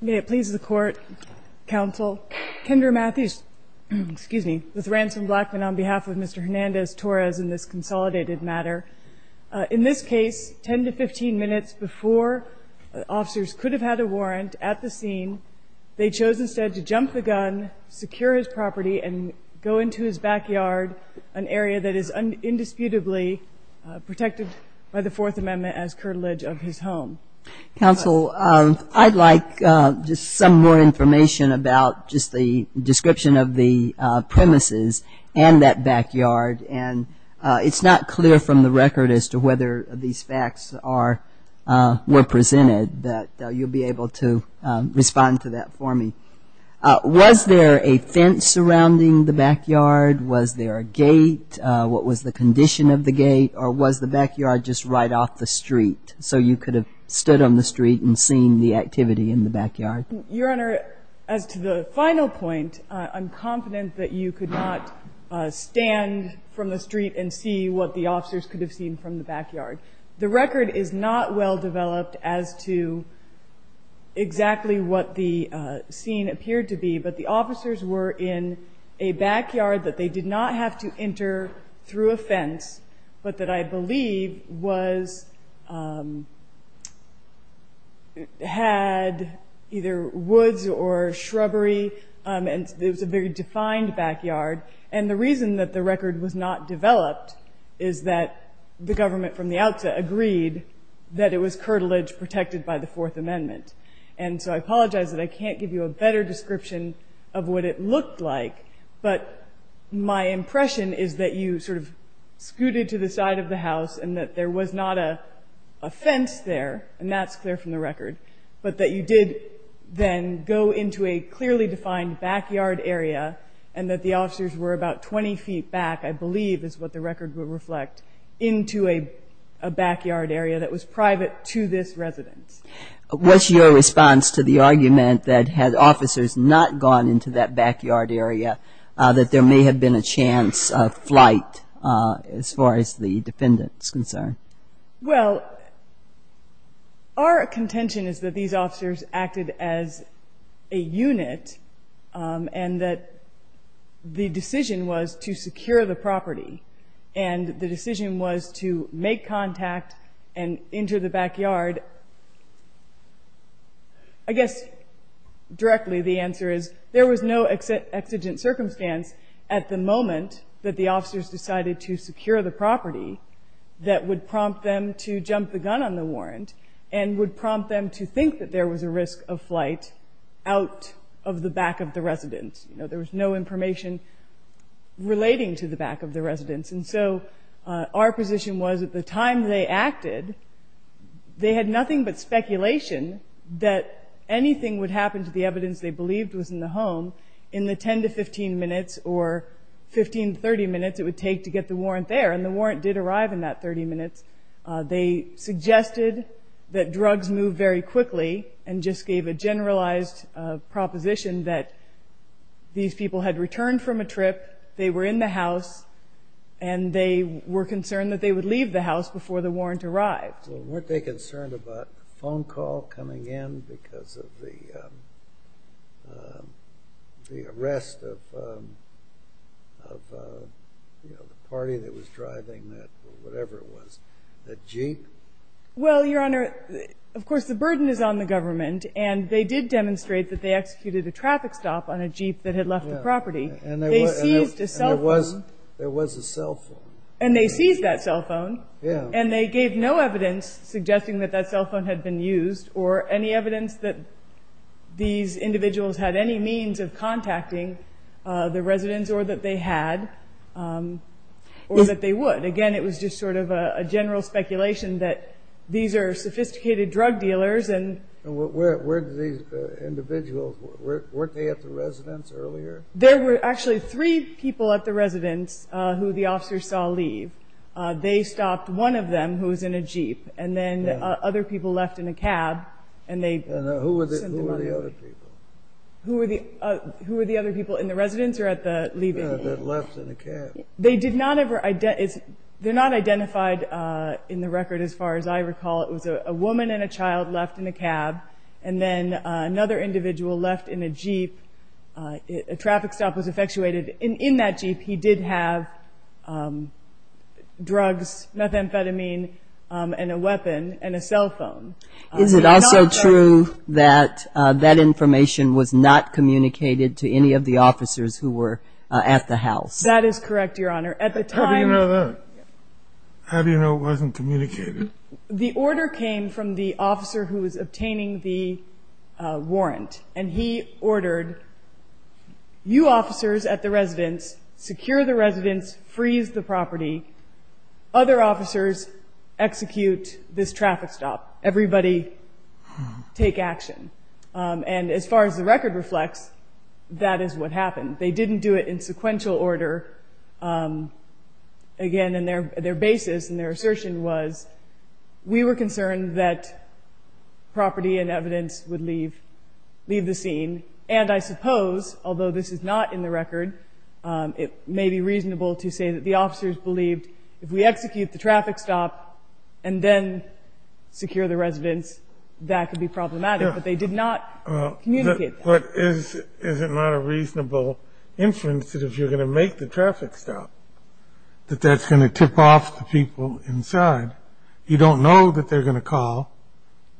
May it please the Court, Counsel. Kendra Matthews, excuse me, with Ransom Blackman on behalf of Mr. Hernandez-Torres in this consolidated matter. In this case, 10 to 15 minutes before officers could have had a warrant at the scene, they chose instead to jump the gun, secure his property, and go into his backyard, an area that is indisputably protected by the Fourth Amendment as curtilage of his home. Counsel, I'd like just some more information about just the description of the premises and that backyard, and it's not clear from the record as to whether these facts were presented, but you'll be able to respond to that for me. Was there a fence surrounding the backyard? Was there a gate? What was the condition of the gate, or was the backyard just right off the street, so you could have stood on the street and seen the activity in the backyard? Your Honor, as to the final point, I'm confident that you could not stand from the street and see what the officers could have seen from the backyard. The record is not well developed as to exactly what the scene appeared to be, but the officers were in a backyard that they did not have to enter through a fence, but that I believe had either woods or shrubbery, and it was a very defined backyard. And the reason that the record was not developed is that the government from the outset agreed that it was curtilage protected by the Fourth Amendment. And so I apologize that I can't give you a better description of what it looked like, but my impression is that you sort of scooted to the side of the house and that there was not a fence there, and that's clear from the record, but that you did then go into a clearly defined backyard area and that the officers were about 20 feet back, I believe is what the record would reflect, into a backyard area that was private to this residence. What's your response to the argument that had officers not gone into that backyard area that there may have been a chance of flight as far as the defendant is concerned? Well, our contention is that these officers acted as a unit and that the decision was to secure the property, and the decision was to make contact and enter the backyard. I guess directly the answer is there was no exigent circumstance at the moment that the officers decided to secure the property that would prompt them to jump the gun on the warrant and would prompt them to think that there was a risk of flight out of the back of the residence. There was no information relating to the back of the residence, and so our position was at the time they acted, they had nothing but speculation that anything would happen to the evidence they believed was in the home in the 10 to 15 minutes or 15 to 30 minutes it would take to get the warrant there, and the warrant did arrive in that 30 minutes. They suggested that drugs move very quickly and just gave a generalized proposition that these people had returned from a trip, they were in the house, and they were concerned that they would leave the house before the warrant arrived. Well, weren't they concerned about a phone call coming in because of the arrest of the party that was driving that, or whatever it was, that jeep? Well, Your Honor, of course the burden is on the government, and they did demonstrate that they executed a traffic stop on a jeep that had left the property. And there was a cell phone. And they seized that cell phone, and they gave no evidence suggesting that that cell phone had been used or any evidence that these individuals had any means of contacting the residents or that they had or that they would. Again, it was just sort of a general speculation that these are sophisticated drug dealers. And where did these individuals, weren't they at the residence earlier? There were actually three people at the residence who the officers saw leave. They stopped one of them who was in a jeep, and then other people left in a cab. And who were the other people? Who were the other people in the residence or at the leaving? They're not identified in the record as far as I recall. It was a woman and a child left in a cab, and then another individual left in a jeep. A traffic stop was effectuated in that jeep. He did have drugs, methamphetamine, and a weapon and a cell phone. Is it also true that that information was not communicated to any of the officers who were at the house? That is correct, Your Honor. How do you know that? How do you know it wasn't communicated? The order came from the officer who was obtaining the warrant. And he ordered, you officers at the residence, secure the residence, freeze the property. Other officers, execute this traffic stop. Everybody take action. And as far as the record reflects, that is what happened. They didn't do it in sequential order. Again, their basis and their assertion was, we were concerned that property and evidence would leave the scene. And I suppose, although this is not in the record, it may be reasonable to say that the officers believed, if we execute the traffic stop and then secure the residence, that could be problematic. But they did not communicate that. But is it not a reasonable inference that if you're going to make the traffic stop, that that's going to tip off the people inside? You don't know that they're going to call,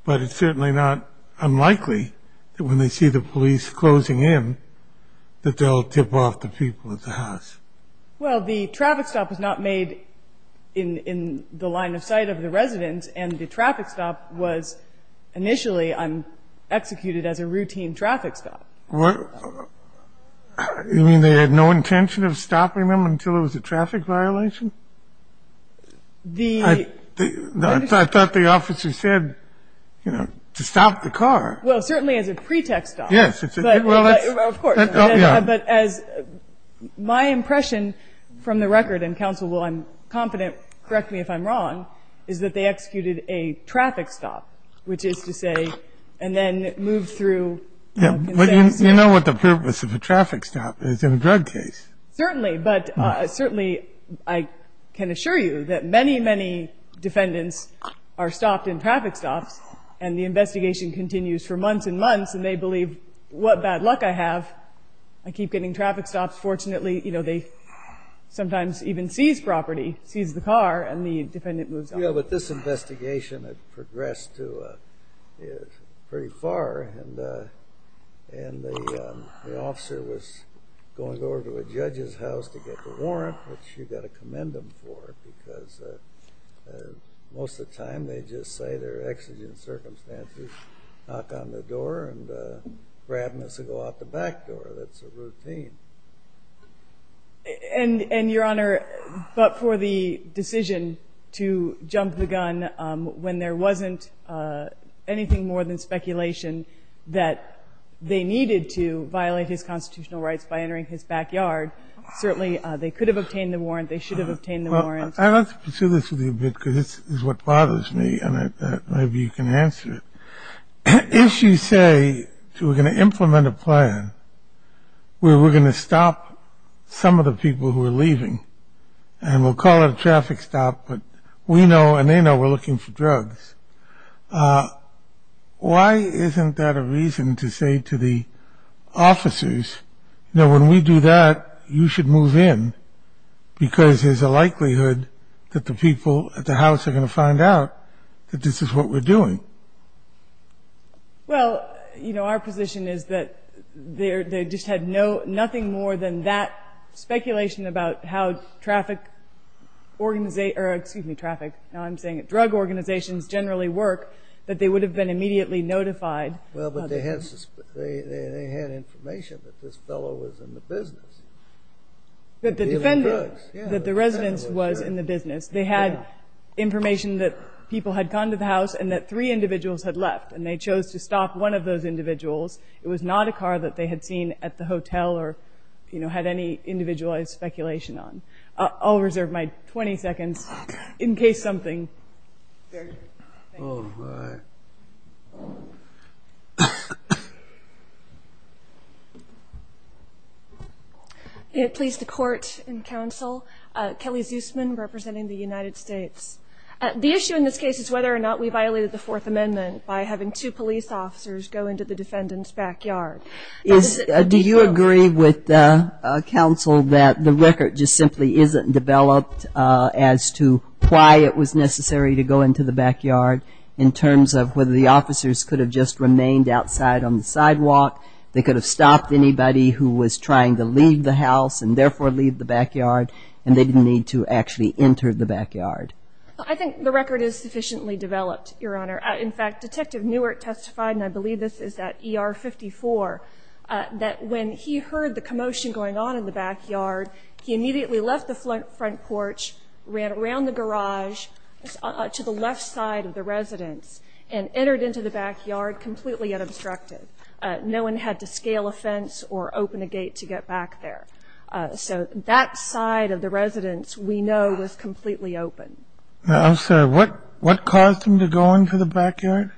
but it's certainly not unlikely that when they see the police closing in, that they'll tip off the people at the house. Well, the traffic stop was not made in the line of sight of the residence, and the traffic stop was initially executed as a routine traffic stop. You mean they had no intention of stopping them until it was a traffic violation? I thought the officer said, you know, to stop the car. Well, certainly as a pretext stop. Yes. Of course. But as my impression from the record, and counsel will, I'm confident, correct me if I'm wrong, is that they executed a traffic stop, which is to say, and then moved through. But you know what the purpose of a traffic stop is in a drug case. Certainly. But certainly, I can assure you that many, many defendants are stopped in traffic stops, and the investigation continues for months and months, and they believe what bad luck I have. I keep getting traffic stops. Fortunately, you know, they sometimes even seize property, seize the car, and the defendant moves on. Yeah, but this investigation had progressed to pretty far, and the officer was going over to a judge's house to get the warrant, which you've got to commend them for, because most of the time they just say their exigent circumstances, knock on the door and grab us and go out the back door. That's a routine. And, Your Honor, but for the decision to jump the gun when there wasn't anything more than speculation that they needed to violate his constitutional rights by entering his backyard, certainly they could have obtained the warrant, they should have obtained the warrant. Well, I'd like to pursue this with you a bit, because this is what bothers me, and maybe you can answer it. If you say we're going to implement a plan where we're going to stop some of the people who are leaving, and we'll call it a traffic stop, but we know and they know we're looking for drugs, why isn't that a reason to say to the officers, you know, when we do that, you should move in? Because there's a likelihood that the people at the house are going to find out that this is what we're doing. Well, you know, our position is that they just had nothing more than that speculation about how traffic, excuse me, traffic, now I'm saying drug organizations generally work, that they would have been immediately notified. Well, but they had information that this fellow was in the business. That the defendant, that the residence was in the business. They had information that people had gone to the house and that three individuals had left, and they chose to stop one of those individuals. It was not a car that they had seen at the hotel or, you know, had any individualized speculation on. I'll reserve my 20 seconds in case something. Thank you. All right. Please, the court and counsel. Kelly Zusman representing the United States. The issue in this case is whether or not we violated the Fourth Amendment Do you agree with counsel that the record just simply isn't developed as to why it was necessary to go into the backyard in terms of whether the officers could have just remained outside on the sidewalk, they could have stopped anybody who was trying to leave the house and therefore leave the backyard, and they didn't need to actually enter the backyard? I think the record is sufficiently developed, Your Honor. In fact, Detective Newert testified, and I believe this is at ER 54, that when he heard the commotion going on in the backyard, he immediately left the front porch, ran around the garage to the left side of the residence, and entered into the backyard completely unobstructed. No one had to scale a fence or open a gate to get back there. So that side of the residence we know was completely open. Now, I'm sorry. What caused them to go into the backyard?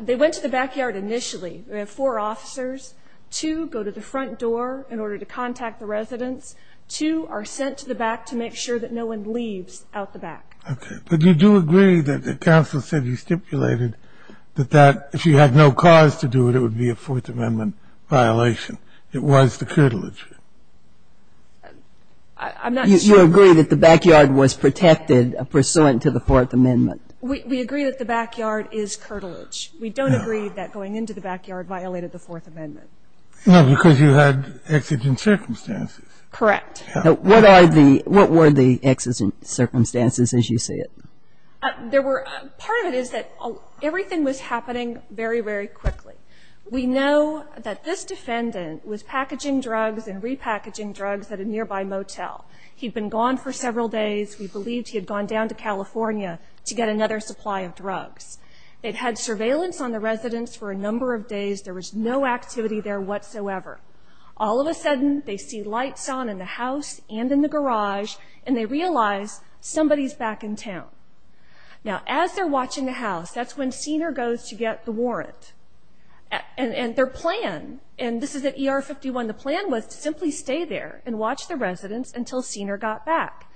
They went to the backyard initially. We have four officers. Two go to the front door in order to contact the residence. Two are sent to the back to make sure that no one leaves out the back. Okay. But you do agree that counsel said he stipulated that if you had no cause to do it, it would be a Fourth Amendment violation. It was the curtilage. I'm not sure. We do agree that the backyard was protected pursuant to the Fourth Amendment. We agree that the backyard is curtilage. No. We don't agree that going into the backyard violated the Fourth Amendment. No, because you had exigent circumstances. Correct. What are the – what were the exigent circumstances as you say it? There were – part of it is that everything was happening very, very quickly. We know that this defendant was packaging drugs and repackaging drugs at a nearby motel. He'd been gone for several days. We believed he had gone down to California to get another supply of drugs. They'd had surveillance on the residence for a number of days. There was no activity there whatsoever. All of a sudden, they see lights on in the house and in the garage, and they realize somebody's back in town. Now, as they're watching the house, that's when Senior goes to get the warrant. And their plan, and this is at ER 51, the plan was to simply stay there and watch the residence until Senior got back.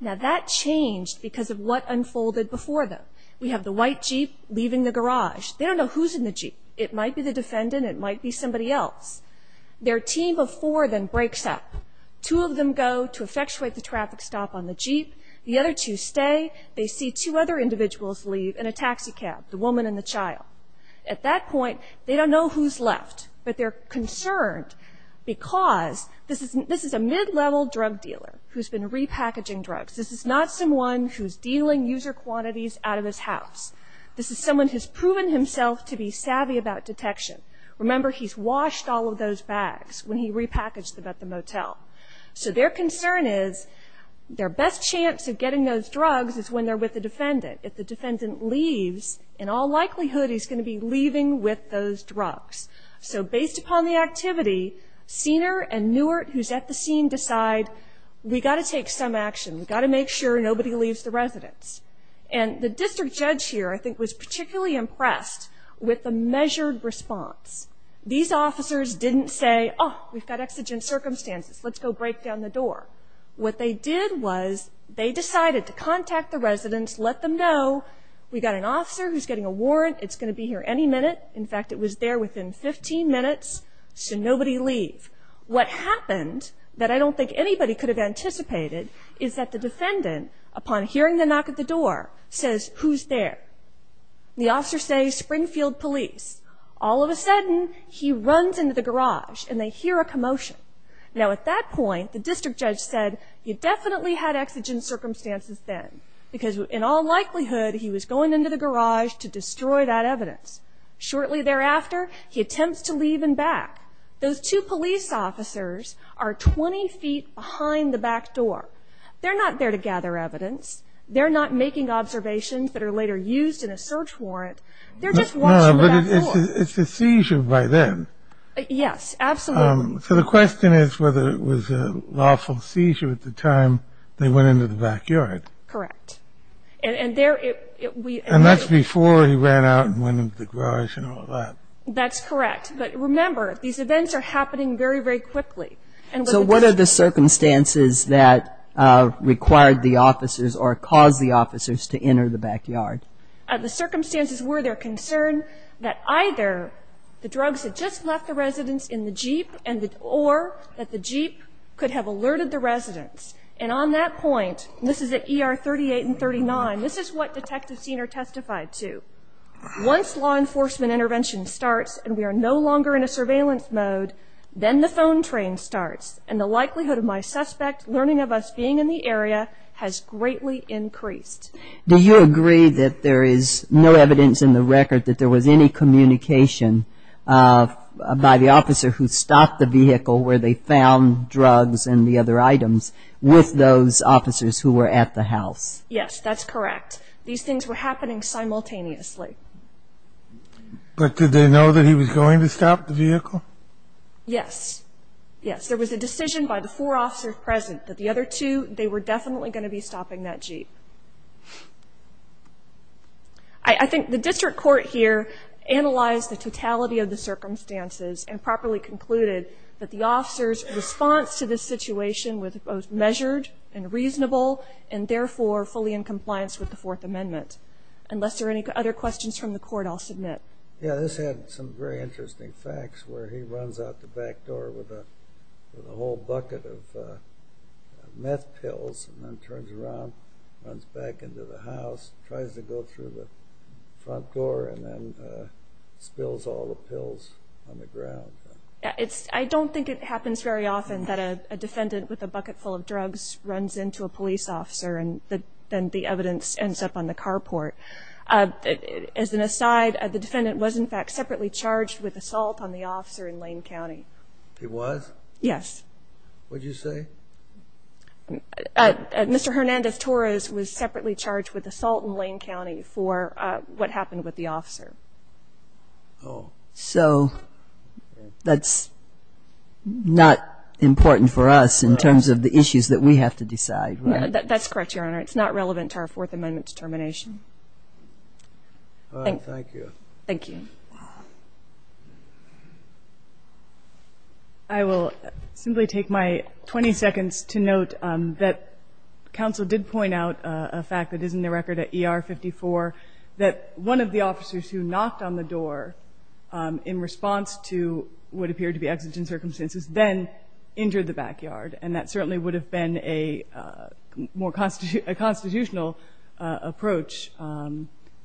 Now, that changed because of what unfolded before them. We have the white Jeep leaving the garage. They don't know who's in the Jeep. It might be the defendant. It might be somebody else. Their team of four then breaks up. Two of them go to effectuate the traffic stop on the Jeep. The other two stay. They see two other individuals leave in a taxi cab, the woman and the child. At that point, they don't know who's left, but they're concerned because this is a mid-level drug dealer who's been repackaging drugs. This is not someone who's dealing user quantities out of his house. This is someone who's proven himself to be savvy about detection. Remember, he's washed all of those bags when he repackaged them at the motel. So their concern is their best chance of getting those drugs is when they're with the defendant. If the defendant leaves, in all likelihood, he's going to be leaving with those drugs. So based upon the activity, Siener and Newert, who's at the scene, decide, we've got to take some action. We've got to make sure nobody leaves the residence. And the district judge here, I think, was particularly impressed with the measured response. These officers didn't say, oh, we've got exigent circumstances. Let's go break down the door. What they did was they decided to contact the residence, let them know, we've got an officer who's getting a warrant. It's going to be here any minute. In fact, it was there within 15 minutes, so nobody leave. What happened that I don't think anybody could have anticipated is that the defendant, upon hearing the knock at the door, says, who's there? The officer says, Springfield Police. All of a sudden, he runs into the garage, and they hear a commotion. Now, at that point, the district judge said, you definitely had exigent circumstances then, because in all likelihood he was going into the garage to destroy that evidence. Shortly thereafter, he attempts to leave and back. Those two police officers are 20 feet behind the back door. They're not there to gather evidence. They're not making observations that are later used in a search warrant. They're just watching the back door. But it's a seizure by them. Yes, absolutely. So the question is whether it was a lawful seizure at the time they went into the backyard. Correct. And that's before he ran out and went into the garage and all that. That's correct. But remember, these events are happening very, very quickly. So what are the circumstances that required the officers or caused the officers to enter the backyard? The circumstances were their concern that either the drugs had just left the residence in the Jeep or that the Jeep could have alerted the residence. And on that point, this is at ER 38 and 39, this is what Detective Senior testified to. Once law enforcement intervention starts and we are no longer in a surveillance mode, then the phone train starts, and the likelihood of my suspect learning of us being in the area has greatly increased. Do you agree that there is no evidence in the record that there was any communication by the officer who stopped the vehicle where they found drugs and the other items with those officers who were at the house? Yes, that's correct. These things were happening simultaneously. But did they know that he was going to stop the vehicle? Yes, yes. There was a decision by the four officers present that the other two, they were definitely going to be stopping that Jeep. I think the district court here analyzed the totality of the circumstances and properly concluded that the officer's response to this situation was both measured and reasonable and therefore fully in compliance with the Fourth Amendment. Unless there are any other questions from the court, I'll submit. Yeah, this had some very interesting facts where he runs out the back door with a whole bucket of meth pills and then turns around, runs back into the house, tries to go through the front door and then spills all the pills on the ground. I don't think it happens very often that a defendant with a bucket full of drugs runs into a police officer and then the evidence ends up on the carport. As an aside, the defendant was, in fact, separately charged with assault on the officer in Lane County. He was? Yes. What did you say? Mr. Hernandez-Torres was separately charged with assault in Lane County for what happened with the officer. Oh. So that's not important for us in terms of the issues that we have to decide, right? That's correct, Your Honor. It's not relevant to our Fourth Amendment determination. All right. Thank you. Thank you. I will simply take my 20 seconds to note that counsel did point out a fact that is in the record at ER 54 that one of the officers who knocked on the door in response to what appeared to be exigent circumstances then injured the backyard, and that certainly would have been a more constitutional approach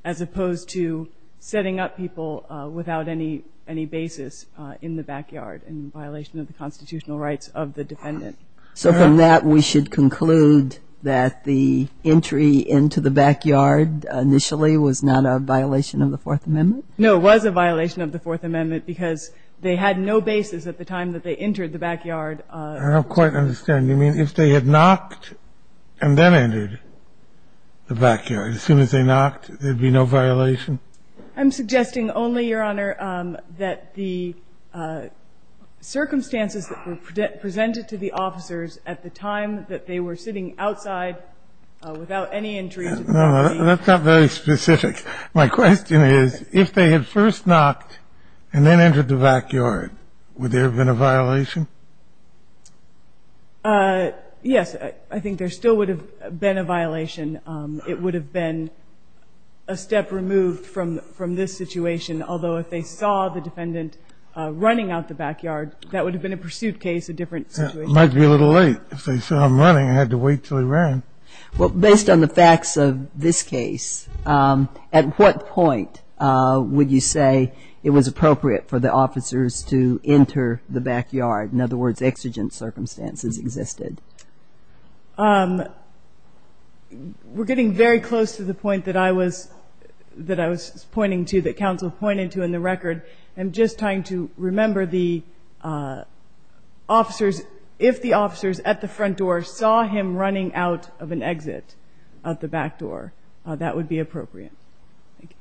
as opposed to setting up people without any basis in the backyard in violation of the constitutional rights of the defendant. So from that, we should conclude that the entry into the backyard initially was not a violation of the Fourth Amendment? No, it was a violation of the Fourth Amendment because they had no basis at the time that they entered the backyard. I don't quite understand. Do you mean if they had knocked and then entered the backyard, as soon as they knocked, there'd be no violation? I'm suggesting only, Your Honor, that the circumstances that were presented to the officers at the time that they were sitting outside without any injury to the property. No, that's not very specific. My question is, if they had first knocked and then entered the backyard, would there have been a violation? Yes, I think there still would have been a violation. It would have been a step removed from this situation, although if they saw the defendant running out the backyard, that would have been a pursuit case, a different situation. It might be a little late. If they saw him running, I had to wait until he ran. Well, based on the facts of this case, at what point would you say it was appropriate for the officers to enter the backyard in other words, exigent circumstances existed? We're getting very close to the point that I was pointing to, that counsel pointed to in the record. I'm just trying to remember the officers, if the officers at the front door saw him running out of an exit at the back door, that would be appropriate.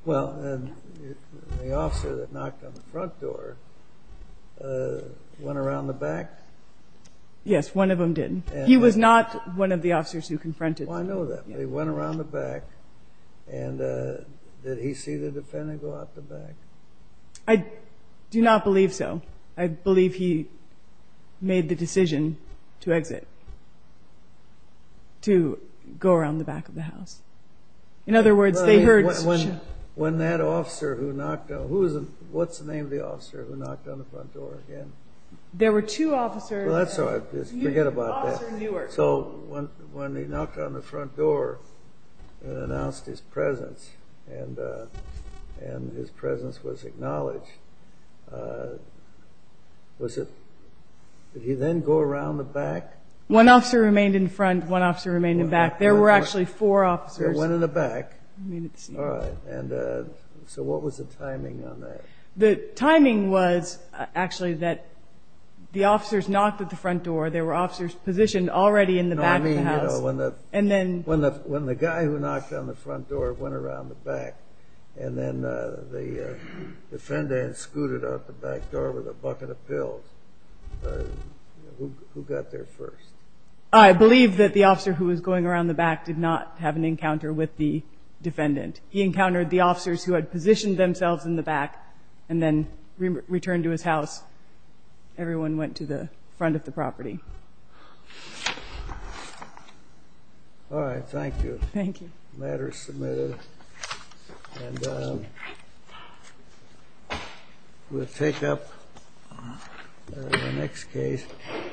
Well, the officer that knocked on the front door went around the back? Yes, one of them did. He was not one of the officers who confronted them. Oh, I know that. They went around the back, and did he see the defendant go out the back? I do not believe so. I believe he made the decision to exit, to go around the back of the house. In other words, they heard. When that officer who knocked on, what's the name of the officer who knocked on the front door again? There were two officers. Well, that's all right. Forget about that. Officer Newark. So when he knocked on the front door and announced his presence, and his presence was acknowledged, did he then go around the back? One officer remained in front, one officer remained in back. There were actually four officers. There were one in the back. All right. So what was the timing on that? The timing was actually that the officers knocked at the front door. There were officers positioned already in the back of the house. No, I mean when the guy who knocked on the front door went around the back, and then the defendant scooted out the back door with a bucket of pills. Who got there first? I believe that the officer who was going around the back did not have an encounter with the defendant. He encountered the officers who had positioned themselves in the back and then returned to his house. Everyone went to the front of the property. All right. Thank you. Thank you. And we'll take up the next case. All right. Thank you.